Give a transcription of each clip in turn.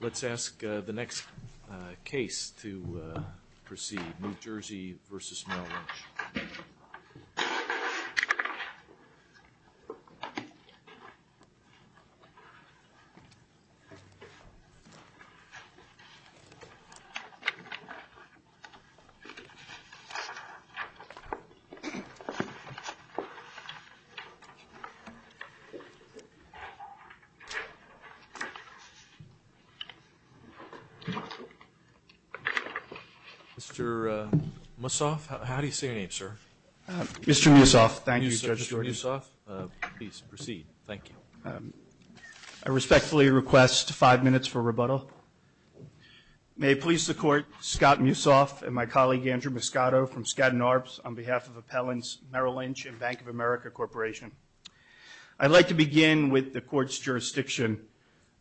Let's ask the next case to proceed, New Jersey v. Merrill Lynch. Mr. Mussoff, how do you say your name, sir? Mr. Mussoff, thank you, Judge Geordi. Mr. Mussoff, please proceed. Thank you. I respectfully request five minutes for rebuttal. May it please the Court, Scott Mussoff and my colleague Andrew Moscato from Skadden Arps, on behalf of Appellants Merrill Lynch and Bank Of America Corporation. I'd like to begin with the Court's jurisdiction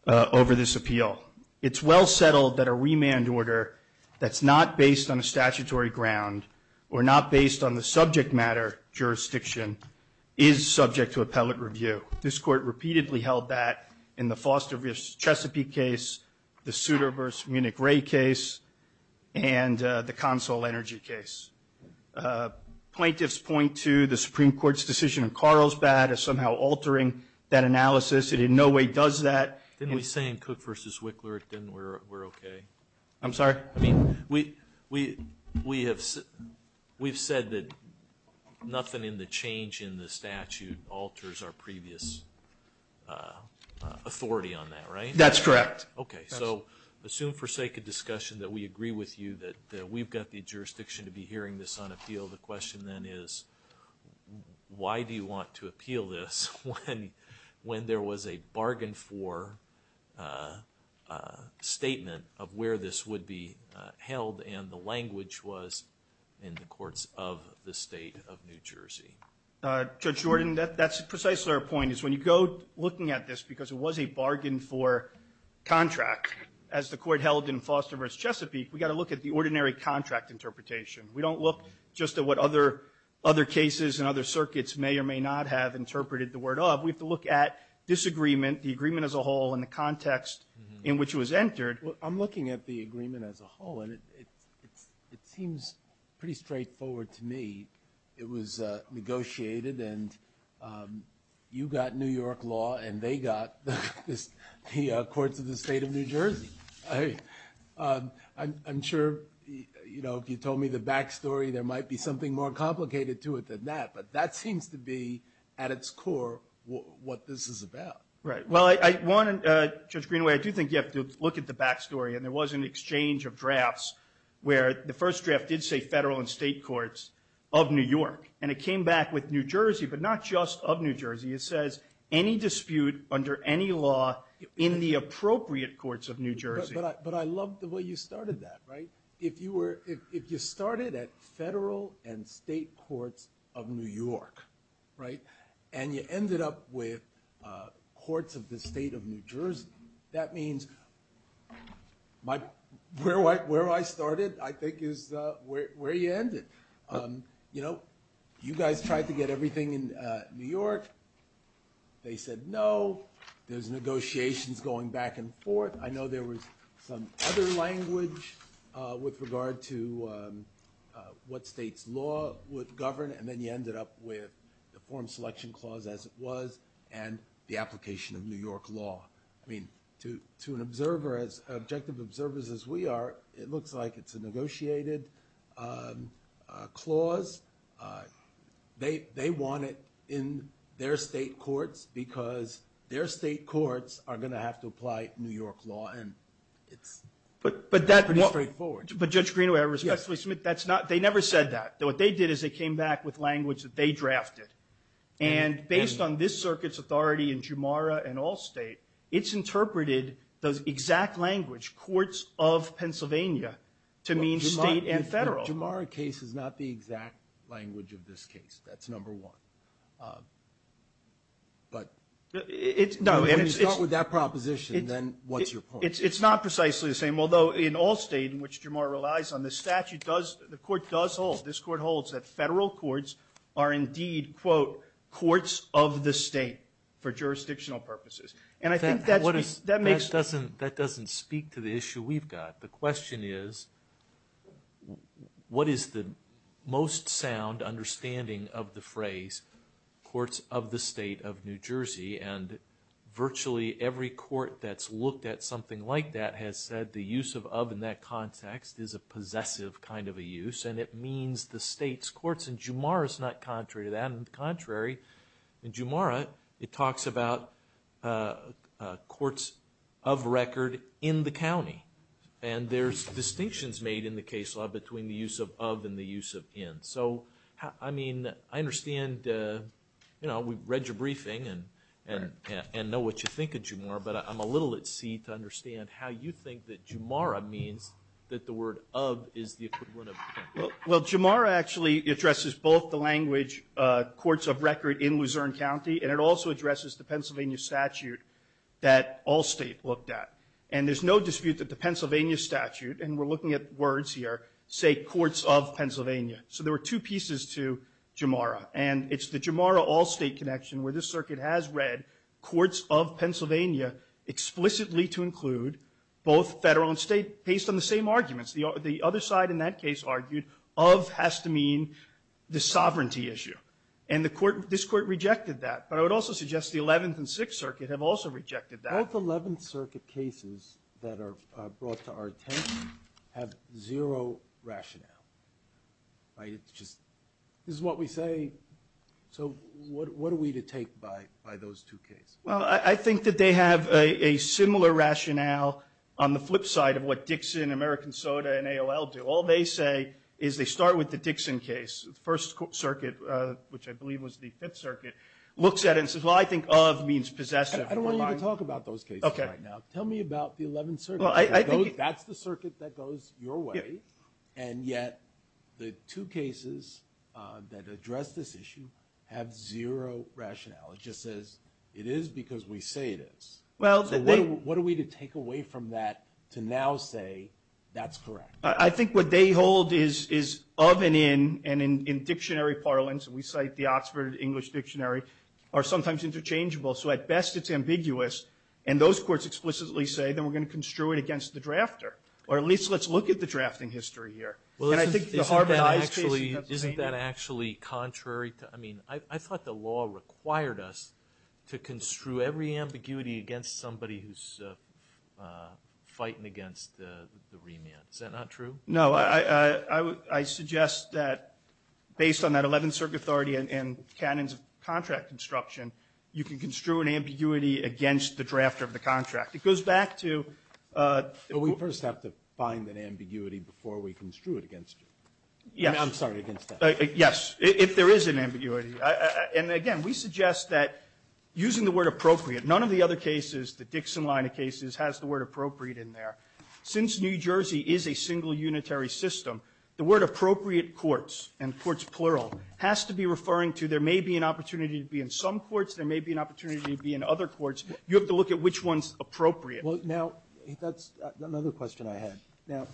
over this appeal. It's well settled that a remand order that's not based on a statutory ground or not based on the subject matter jurisdiction is subject to appellate review. This Court repeatedly held that in the Foster v. Chesapeake case, the Souter v. Munich Ray case, and the Consol Energy case. Plaintiffs point to the Supreme Court's decision in Carlsbad as somehow altering that analysis. It in no way does that. Didn't we say in Cook v. Wickler that we're okay? I'm sorry? I mean, we've said that nothing in the change in the statute alters our previous authority on that, right? That's correct. Okay, so assume for sake of discussion that we agree with you that we've got the jurisdiction to be hearing this on appeal, the question then is, why do you want to appeal this when there was a bargain for statement of where this would be held and the language was in the courts of the State of New Jersey? Judge Jordan, that's precisely our point, is when you go looking at this, because it was a bargain for contract, as the Court held in Foster v. Chesapeake, we've got to look at the ordinary contract interpretation. We don't look just at what other cases and other circuits may or may not have interpreted the word of. We have to look at disagreement, the agreement as a whole, and the context in which it was entered. I'm looking at the agreement as a whole, and it seems pretty straightforward to me. It was negotiated, and you got New York law, and they got the courts of the State of New Jersey. I'm sure, you know, if you told me the back story, there might be something more complicated to it than that, but that seems to be, at its core, what this is about. Right. Well, Judge Greenaway, I do think you have to look at the back story, and there was an exchange of drafts where the first draft did say federal and state courts of New York, and it came back with New Jersey, but not just of New Jersey. It says any dispute under any law in the appropriate courts of New Jersey. But I love the way you started that, right? If you started at federal and state courts of New York, right, and you ended up with courts of the State of New Jersey, that means where I started, I think, is where you ended. You know, you guys tried to get everything in New York. They said no. There's negotiations going back and forth. I know there was some other language with regard to what state's law would govern, and then you ended up with the form selection clause as it was and the application of New York law. I mean, to an observer, as objective observers as we are, it looks like it's a negotiated clause. They want it in their state courts because their state courts are going to have to apply New York law, and it's pretty straightforward. But Judge Greenaway, I respectfully submit that's not ñ they never said that. What they did is they came back with language that they drafted. And based on this circuit's authority in Jumara and Allstate, it's interpreted those exact language, courts of Pennsylvania, to mean state and federal. Jumara case is not the exact language of this case. That's number one. But when you start with that proposition, then what's your point? It's not precisely the same, although in Allstate, in which Jumara relies on, the statute does ñ the court does hold. This court holds that federal courts are indeed, quote, courts of the state for jurisdictional purposes. And I think that makes ñ That doesn't speak to the issue we've got. The question is, what is the most sound understanding of the phrase courts of the state of New Jersey? And virtually every court that's looked at something like that has said the use of of in that context is a possessive kind of a use, and it means the state's courts. And Jumara's not contrary to that. On the contrary, in Jumara, it talks about courts of record in the county. And there's distinctions made in the case law between the use of of and the use of in. So, I mean, I understand, you know, we've read your briefing and know what you think of Jumara, but I'm a little at sea to understand how you think that Jumara means that the word of is the equivalent of. Well, Jumara actually addresses both the language courts of record in Luzerne County, and it also addresses the Pennsylvania statute that Allstate looked at. And there's no dispute that the Pennsylvania statute, and we're looking at words here, say courts of Pennsylvania. So there were two pieces to Jumara. And it's the Jumara Allstate connection where this circuit has read courts of Pennsylvania explicitly to include both federal and state based on the same arguments. The other side in that case argued of has to mean the sovereignty issue. And this court rejected that. But I would also suggest the Eleventh and Sixth Circuit have also rejected that. Both Eleventh Circuit cases that are brought to our attention have zero rationale. This is what we say. So what are we to take by those two cases? Well, I think that they have a similar rationale on the flip side of what Dixon, American Soda, and AOL do. All they say is they start with the Dixon case. The First Circuit, which I believe was the Fifth Circuit, looks at it and says, well, I think of means possessive. I don't want you to talk about those cases right now. Tell me about the Eleventh Circuit. That's the circuit that goes your way. And yet the two cases that address this issue have zero rationale. It just says it is because we say it is. So what are we to take away from that to now say that's correct? I think what they hold is of and in, and in dictionary parlance, we cite the Oxford English Dictionary, are sometimes interchangeable. So at best it's ambiguous. And those courts explicitly say, then we're going to construe it against the drafter. Or at least let's look at the drafting history here. And I think the Harvard Eyes case you have painted. Isn't that actually contrary to, I mean, I thought the law required us to construe every ambiguity against somebody who's fighting against the remand. Is that not true? No. I suggest that based on that Eleventh Circuit authority and canons of contract construction, you can construe an ambiguity against the drafter of the contract. It goes back to. But we first have to find an ambiguity before we construe it against you. Yes. I'm sorry, against that. Yes. If there is an ambiguity. And again, we suggest that using the word appropriate, none of the other cases, the Dixon line of cases, has the word appropriate in there. Since New Jersey is a single unitary system, the word appropriate courts and courts plural has to be referring to. There may be an opportunity to be in some courts. There may be an opportunity to be in other courts. You have to look at which one's appropriate. Well, now, that's another question I had. Now,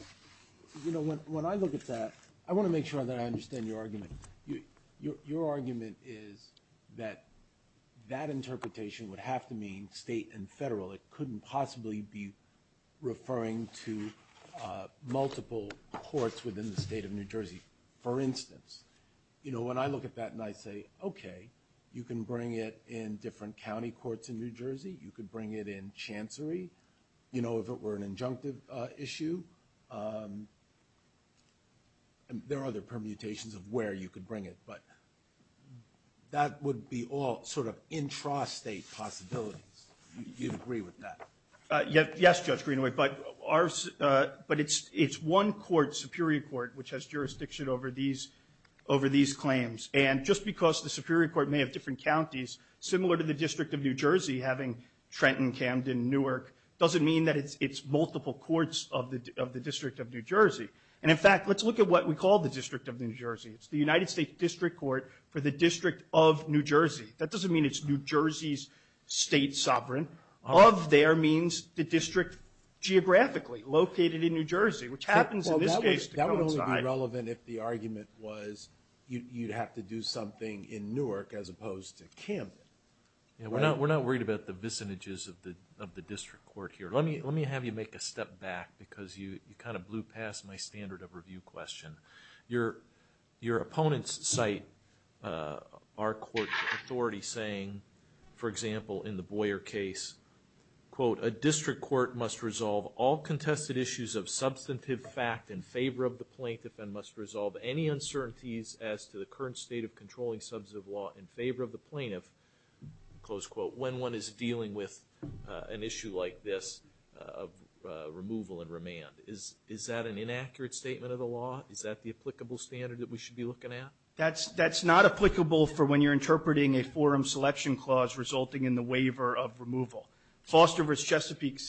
you know, when I look at that, I want to make sure that I understand your argument. Your argument is that that interpretation would have to mean state and federal. It couldn't possibly be referring to multiple courts within the state of New Jersey. For instance, you know, when I look at that and I say, okay, you can bring it in different county courts in New Jersey, you could bring it in chancery, you know, if it were an injunctive issue. There are other permutations of where you could bring it. But that would be all sort of intrastate possibilities. Do you agree with that? Yes, Judge Greenaway, but it's one court, Superior Court, which has jurisdiction over these claims. And just because the Superior Court may have different counties, similar to the District of New Jersey, having Trenton, Camden, Newark, doesn't mean that it's multiple courts of the District of New Jersey. And, in fact, let's look at what we call the District of New Jersey. It's the United States District Court for the District of New Jersey. That doesn't mean it's New Jersey's state sovereign. Of their means, the district geographically located in New Jersey, which happens in this case to coincide. That would only be relevant if the argument was you'd have to do something in Newark as opposed to Camden. We're not worried about the vicinages of the district court here. Let me have you make a step back because you kind of blew past my standard of review question. Your opponents cite our court authority saying, for example, in the Boyer case, quote, a district court must resolve all contested issues of substantive fact in favor of the plaintiff and must resolve any uncertainties as to the current state of controlling substantive law in favor of the plaintiff, close quote, when one is dealing with an issue like this of removal and remand. Is that an inaccurate statement of the law? Is that the applicable standard that we should be looking at? That's not applicable for when you're interpreting a forum selection clause resulting in the waiver of removal. Foster v. Chesapeake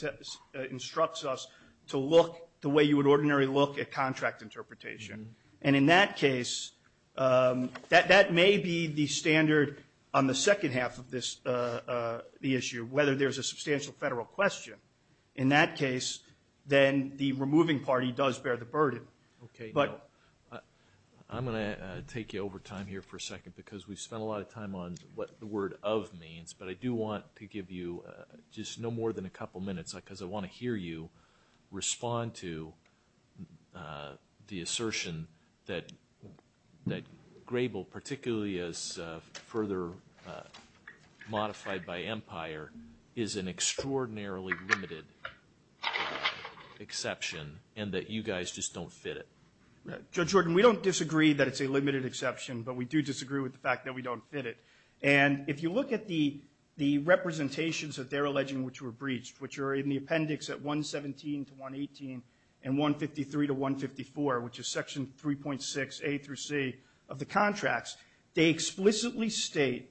instructs us to look the way you would ordinarily look at contract interpretation. And in that case, that may be the standard on the second half of this issue, whether there's a substantial federal question. In that case, then the removing party does bear the burden. Okay. I'm going to take you over time here for a second because we've spent a lot of time on what the word of means, but I do want to give you just no more than a couple minutes because I want to hear you respond to the assertion that Grable, particularly as further modified by Empire, is an extraordinarily limited exception and that you guys just don't fit it. Judge Horton, we don't disagree that it's a limited exception, but we do disagree with the fact that we don't fit it. And if you look at the representations that they're alleging which were breached, which are in the appendix at 117 to 118 and 153 to 154, which is Section 3.6A through C of the contracts, they explicitly state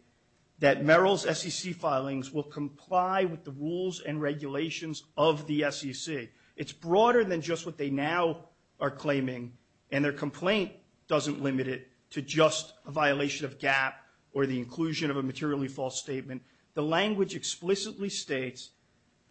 that Merrill's SEC filings will comply with the rules and regulations of the SEC. It's broader than just what they now are claiming, and their complaint doesn't limit it to just a violation of GAP or the inclusion of a materially false statement. The language explicitly states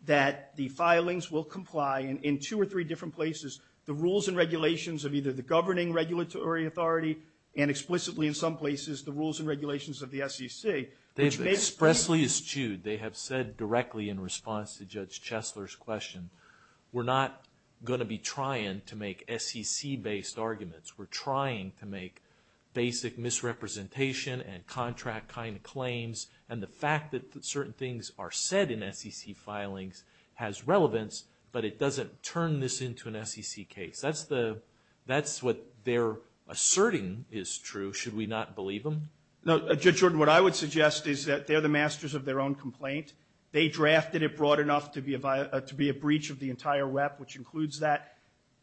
that the filings will comply in two or three different places, the rules and regulations of either the governing regulatory authority and explicitly in some places the rules and regulations of the SEC. They've expressly eschewed, they have said directly in response to Judge Chesler's question, we're not going to be trying to make SEC-based arguments. We're trying to make basic misrepresentation and contract kind of claims, and the fact that certain things are said in SEC filings has relevance, but it doesn't turn this into an SEC case. That's the – that's what they're asserting is true, should we not believe them? No, Judge Jordan, what I would suggest is that they're the masters of their own complaint. They drafted it broad enough to be a breach of the entire WEP, which includes that.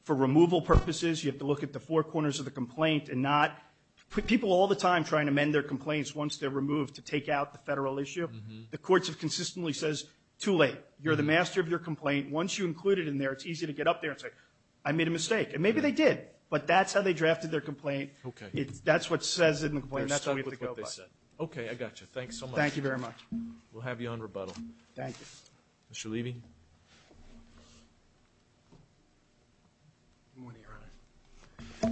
For removal purposes, you have to look at the four corners of the complaint and not – people all the time try and amend their complaints once they're removed to take out the federal issue. The courts have consistently says, too late. You're the master of your complaint. Once you include it in there, it's easy to get up there and say, I made a mistake. And maybe they did, but that's how they drafted their complaint. That's what says in the complaint. They're stuck with what they said. Okay, I got you. Thanks so much. Thank you very much. We'll have you on rebuttal. Thank you. Mr. Levy? Good morning, Your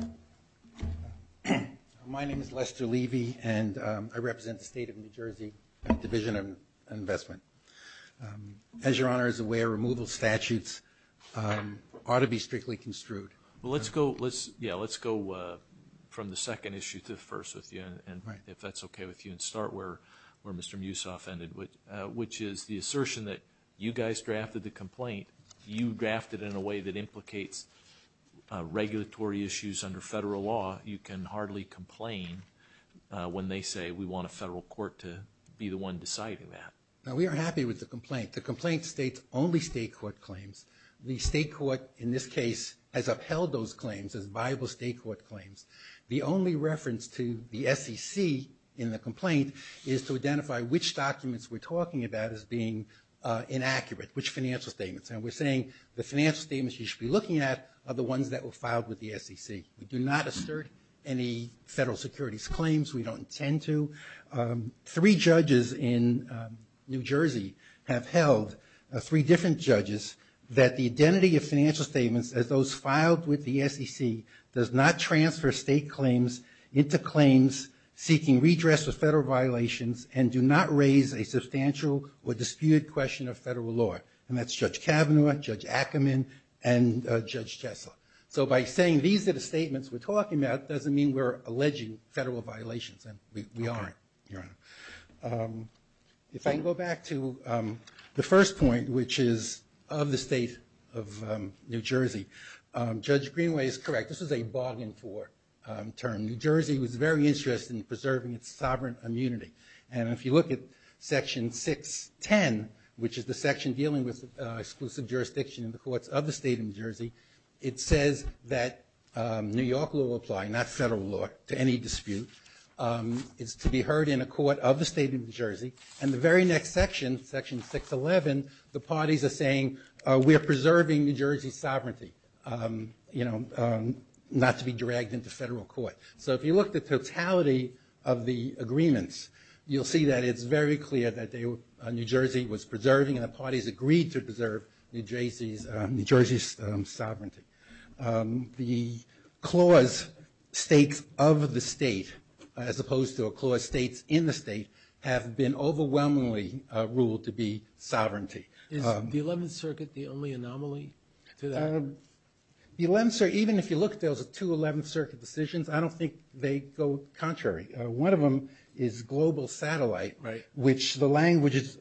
Honor. My name is Lester Levy, and I represent the State of New Jersey Division of Investment. As Your Honor is aware, removal statutes ought to be strictly construed. Well, let's go – yeah, let's go from the second issue to the first with you, and if that's okay with you, and start where Mr. Mussoff ended, which is the assertion that you guys drafted the complaint. You drafted it in a way that implicates regulatory issues under federal law. You can hardly complain when they say we want a federal court to be the one deciding that. No, we are happy with the complaint. The complaint states only state court claims. The state court, in this case, has upheld those claims as viable state court claims. The only reference to the SEC in the complaint is to identify which documents we're talking about as being inaccurate, which financial statements. And we're saying the financial statements you should be looking at are the ones that were filed with the SEC. We do not assert any federal securities claims. We don't intend to. Three judges in New Jersey have held, three different judges, that the identity of financial statements, as those filed with the SEC, does not transfer state claims into claims seeking redress for federal violations and do not raise a substantial or disputed question of federal law. And that's Judge Kavanaugh, Judge Ackerman, and Judge Jessup. So by saying these are the statements we're talking about doesn't mean we're alleging federal violations, and we aren't, Your Honor. If I can go back to the first point, which is of the state of New Jersey, Judge Greenway is correct. This is a bargain for term. New Jersey was very interested in preserving its sovereign immunity. And if you look at Section 610, which is the section dealing with exclusive jurisdiction in the courts of the state of New Jersey, it says that New York law apply, not federal law, to any dispute. It's to be heard in a court of the state of New Jersey. And the very next section, Section 611, the parties are saying, we are preserving New Jersey's sovereignty, not to be dragged into federal court. So if you look at the totality of the agreements, you'll see that it's very clear that New Jersey was preserving and the parties agreed to preserve New Jersey's sovereignty. The clause states of the state, as opposed to a clause states in the state, have been overwhelmingly ruled to be sovereignty. Is the 11th Circuit the only anomaly to that? The 11th Circuit, even if you look at those two 11th Circuit decisions, I don't think they go contrary. One of them is Global Satellite, which the language is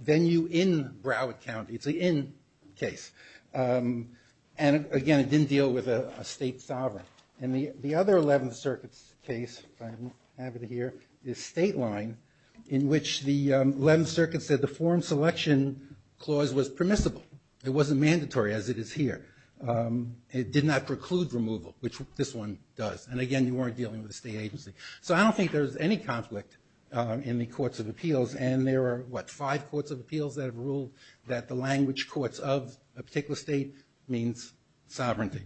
venue in Broward County. It's an in case. And again, it didn't deal with a state sovereign. And the other 11th Circuit's case, I'm happy to hear, is State Line, in which the 11th Circuit said the form selection clause was permissible. It wasn't mandatory, as it is here. It did not preclude removal, which this one does. And again, you weren't dealing with a state agency. So I don't think there's any conflict in the courts of appeals. And there are, what, five courts of appeals that have ruled that the language courts of a particular state means sovereignty.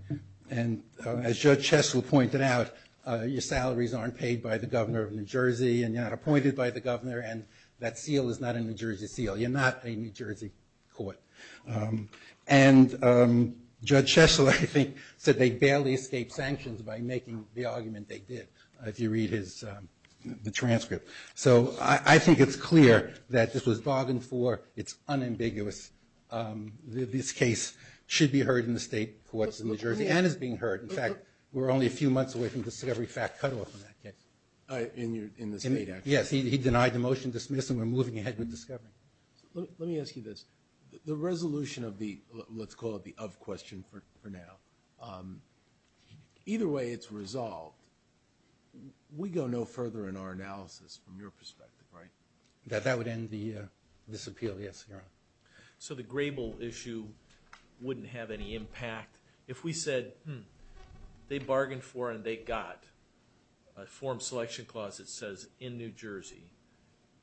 And as Judge Chesler pointed out, your salaries aren't paid by the governor of New Jersey and you're not appointed by the governor and that seal is not a New Jersey seal. You're not a New Jersey court. And Judge Chesler, I think, said they barely escaped sanctions by making the argument they did, if you read the transcript. So I think it's clear that this was bargained for. It's unambiguous. This case should be heard in the state courts of New Jersey and is being heard. In fact, we're only a few months away from the discovery fact cutoff on that case. In the state, actually. Yes, he denied the motion to dismiss and we're moving ahead with discovery. Let me ask you this. The resolution of the, let's call it the of question for now, either way it's resolved. We go no further in our analysis from your perspective, right? That would end this appeal. Yes, Your Honor. So the Grable issue wouldn't have any impact. If we said, hmm, they bargained for and they got a form selection clause that says in New Jersey,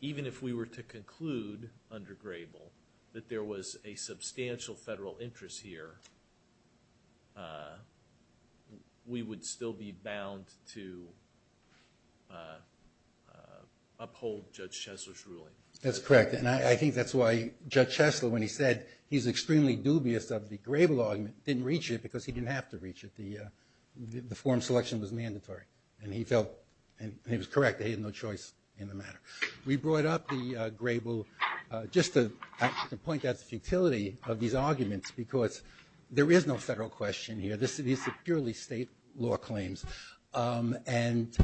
even if we were to conclude under Grable that there was a substantial federal interest here, we would still be bound to uphold Judge Chesler's ruling. That's correct. And I think that's why Judge Chesler, when he said he's extremely dubious of the Grable argument, didn't reach it because he didn't have to reach it. The form selection was mandatory. And he felt, and he was correct, that he had no choice in the matter. We brought up the Grable, just to point out the futility of these arguments, because there is no federal question here. These are purely state law claims. And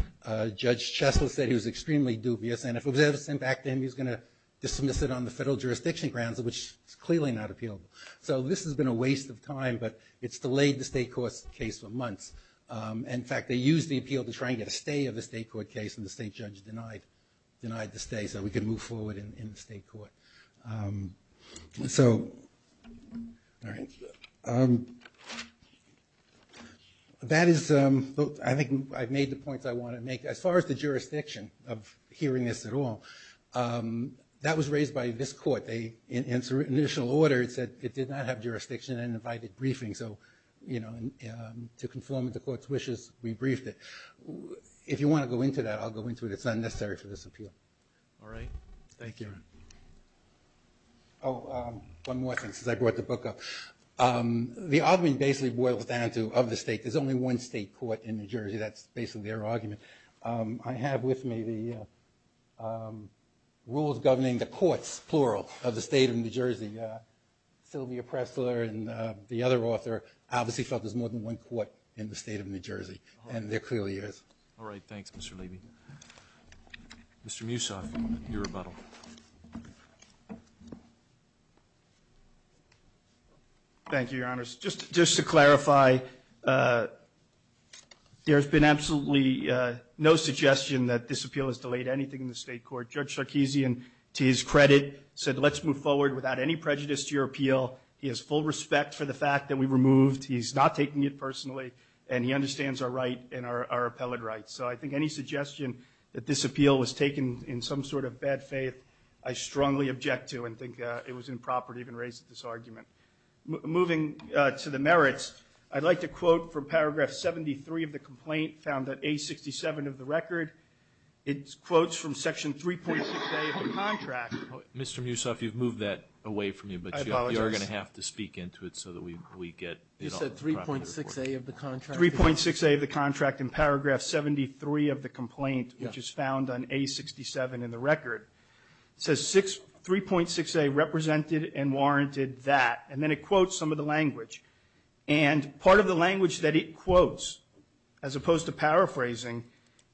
Judge Chesler said he was extremely dubious, and if it was ever sent back to him, he was going to dismiss it on the federal jurisdiction grounds, which is clearly not appealable. So this has been a waste of time, but it's delayed the state court's case for months. In fact, they used the appeal to try and get a stay of the state court case, and the state judge denied the stay so we could move forward in the state court. So, all right. That is, I think I've made the points I want to make. As far as the jurisdiction of hearing this at all, that was raised by this court. In its initial order, it said it did not have jurisdiction and invited briefings. So, you know, to conform to the court's wishes, we briefed it. If you want to go into that, I'll go into it. It's not necessary for this appeal. All right. Thank you. Oh, one more thing since I brought the book up. The argument basically boils down to of the state. There's only one state court in New Jersey. That's basically their argument. I have with me the rules governing the courts, plural, of the state of New Jersey. Sylvia Pressler and the other author obviously felt there's more than one court in the state of New Jersey, and there clearly is. All right. Thanks, Mr. Levy. Mr. Mussoff, your rebuttal. Thank you, Your Honors. Just to clarify, there's been absolutely no suggestion that this appeal has delayed anything in the state court. Judge Sarkisian, to his credit, said let's move forward without any prejudice to your appeal. He has full respect for the fact that we removed. He's not taking it personally. And he understands our right and our appellate rights. So I think any suggestion that this appeal was taken in some sort of bad faith, I strongly object to and think it was improper to even raise this argument. Moving to the merits, I'd like to quote from paragraph 73 of the complaint found at A67 of the record. It quotes from section 3.6A of the contract. Mr. Mussoff, you've moved that away from me. I apologize. But you are going to have to speak into it so that we get it all. You said 3.6A of the contract. 3.6A of the contract in paragraph 73 of the complaint, which is found on A67 in the record. It says 3.6A represented and warranted that. And then it quotes some of the language. And part of the language that it quotes, as opposed to paraphrasing,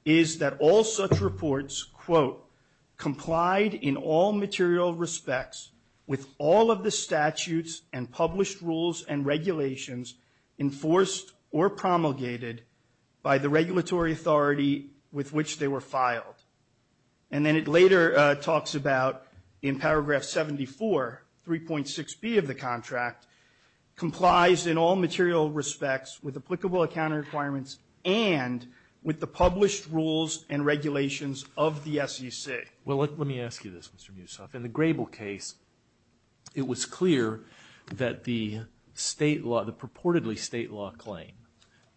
is that all such reports, quote, complied in all material respects with all of the statutes and published rules and regulations enforced or promulgated by the regulatory authority with which they were filed. And then it later talks about in paragraph 74, 3.6B of the contract, complies in all material respects with applicable accounting requirements and with the published rules and regulations of the SEC. Well, let me ask you this, Mr. Mussoff. In the Grable case, it was clear that the state law, the purportedly state law claim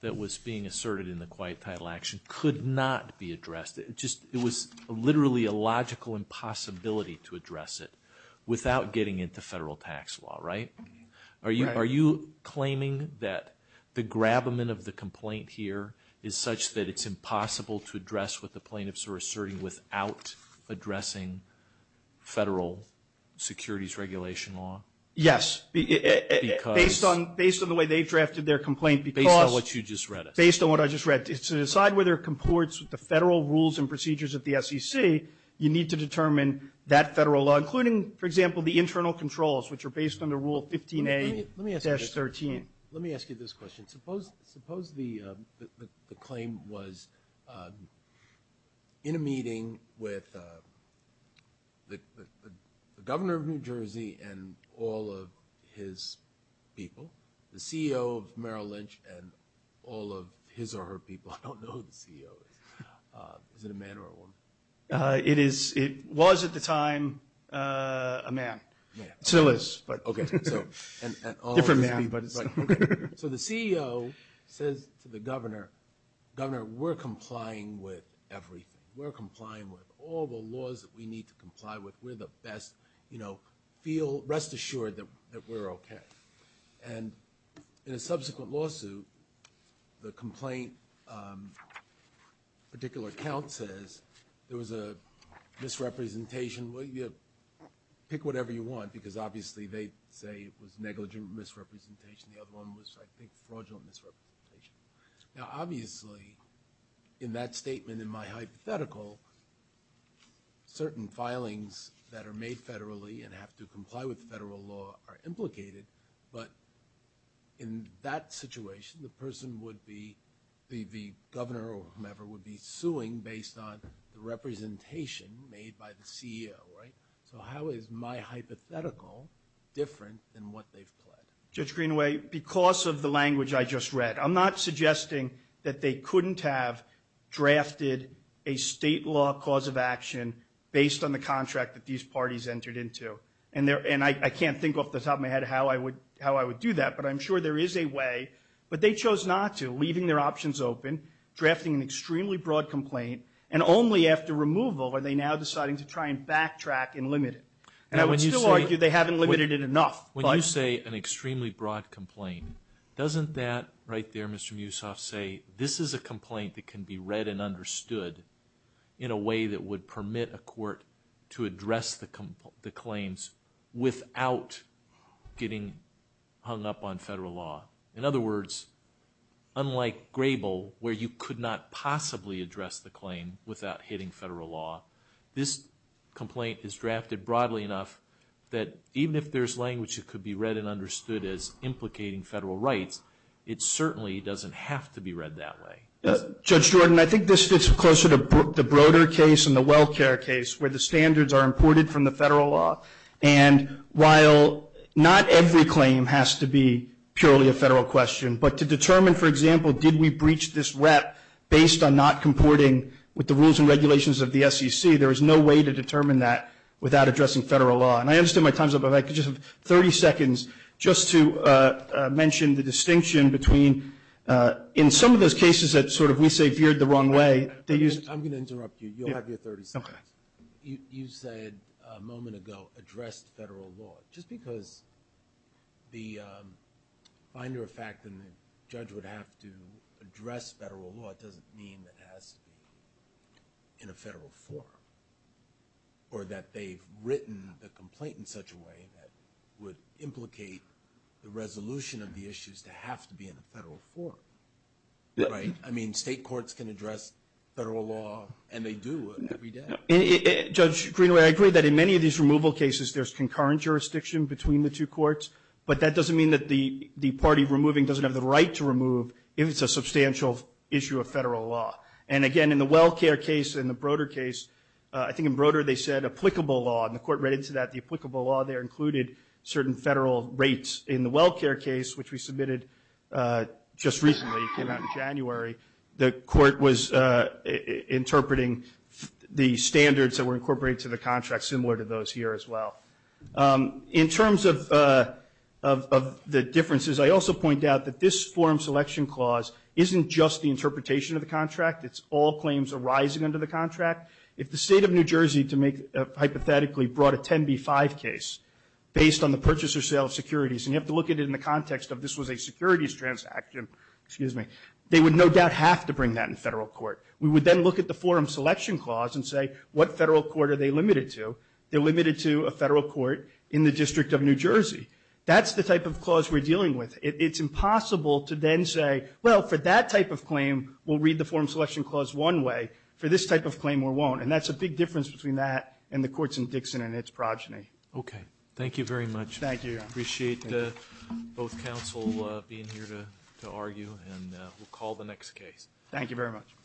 that was being asserted in the quiet title action could not be addressed. It was literally a logical impossibility to address it without getting into federal tax law, right? Are you claiming that the grabment of the complaint here is such that it's impossible to address what the plaintiffs are asserting without addressing federal securities regulation law? Yes. Based on the way they drafted their complaint. Based on what you just read. Based on what I just read. To decide whether it comports with the federal rules and procedures of the SEC, you need to determine that federal law, including, for example, the internal controls, which are based on the Rule 15A-13. Let me ask you this question. Suppose the claim was in a meeting with the governor of New Jersey and all of his people, the CEO of Merrill Lynch and all of his or her people. I don't know who the CEO is. Is it a man or a woman? It was at the time a man. It still is. Okay. Different man. So the CEO says to the governor, Governor, we're complying with everything. We're complying with all the laws that we need to comply with. We're the best. You know, rest assured that we're okay. And in a subsequent lawsuit, the complaint, a particular account says, there was a misrepresentation. Pick whatever you want because obviously they say it was negligent misrepresentation. The other one was, I think, fraudulent misrepresentation. Now, obviously, in that statement, in my hypothetical, certain filings that are made federally and have to comply with federal law are implicated, but in that situation, the person would be, the governor or whomever would be suing based on the representation made by the CEO, right? So how is my hypothetical different than what they've pled? Judge Greenaway, because of the language I just read, I'm not suggesting that they couldn't have drafted a state law cause of action based on the contract that these parties entered into. And I can't think off the top of my head how I would do that, but I'm sure there is a way. But they chose not to, leaving their options open, drafting an extremely broad complaint, and only after removal are they now deciding to try and backtrack and limit it. And I would still argue they haven't limited it enough. When you say an extremely broad complaint, doesn't that right there, Mr. Musoff, say this is a complaint that can be read and understood in a way that would permit a court to address the claims without getting hung up on federal law? In other words, unlike Grable, where you could not possibly address the claim without hitting federal law, this complaint is drafted broadly enough that even if there's language that could be read and understood as implicating federal rights, it certainly doesn't have to be read that way. Judge Jordan, I think this fits closer to the Broder case and the WellCare case, where the standards are imported from the federal law. And while not every claim has to be purely a federal question, but to determine, for example, did we breach this rep based on not comporting with the rules and regulations of the SEC, there is no way to determine that without addressing federal law. And I understand my time's up, but if I could just have 30 seconds just to mention the distinction between in some of those cases that sort of we say veered the wrong way. I'm going to interrupt you. You'll have your 30 seconds. You said a moment ago addressed federal law. Just because the finder of fact and the judge would have to address federal law doesn't mean it has to be in a federal forum, or that they've written the complaint in such a way that would implicate the resolution of the issues to have to be in a federal forum. Right? I mean, state courts can address federal law, and they do every day. Judge Greenway, I agree that in many of these removal cases, there's concurrent jurisdiction between the two courts, but that doesn't mean that the party removing doesn't have the right to remove if it's a substantial issue of federal law. And, again, in the WellCare case and the Broder case, I think in Broder they said applicable law, and the court read into that the applicable law there included certain federal rates. In the WellCare case, which we submitted just recently, it came out in January, the court was interpreting the standards that were incorporated to the contract, similar to those here as well. In terms of the differences, I also point out that this forum selection clause isn't just the interpretation of the contract. It's all claims arising under the contract. If the state of New Jersey, hypothetically, brought a 10b-5 case based on the purchaser sale of securities, and you have to look at it in the context of this was a securities transaction, they would no doubt have to bring that in federal court. We would then look at the forum selection clause and say, what federal court are they limited to? They're limited to a federal court in the District of New Jersey. That's the type of clause we're dealing with. It's impossible to then say, well, for that type of claim, we'll read the forum selection clause one way. For this type of claim, we won't. And that's a big difference between that and the courts in Dixon and its progeny. Okay. Thank you very much. Thank you. Appreciate both counsel being here to argue. And we'll call the next case. Thank you very much.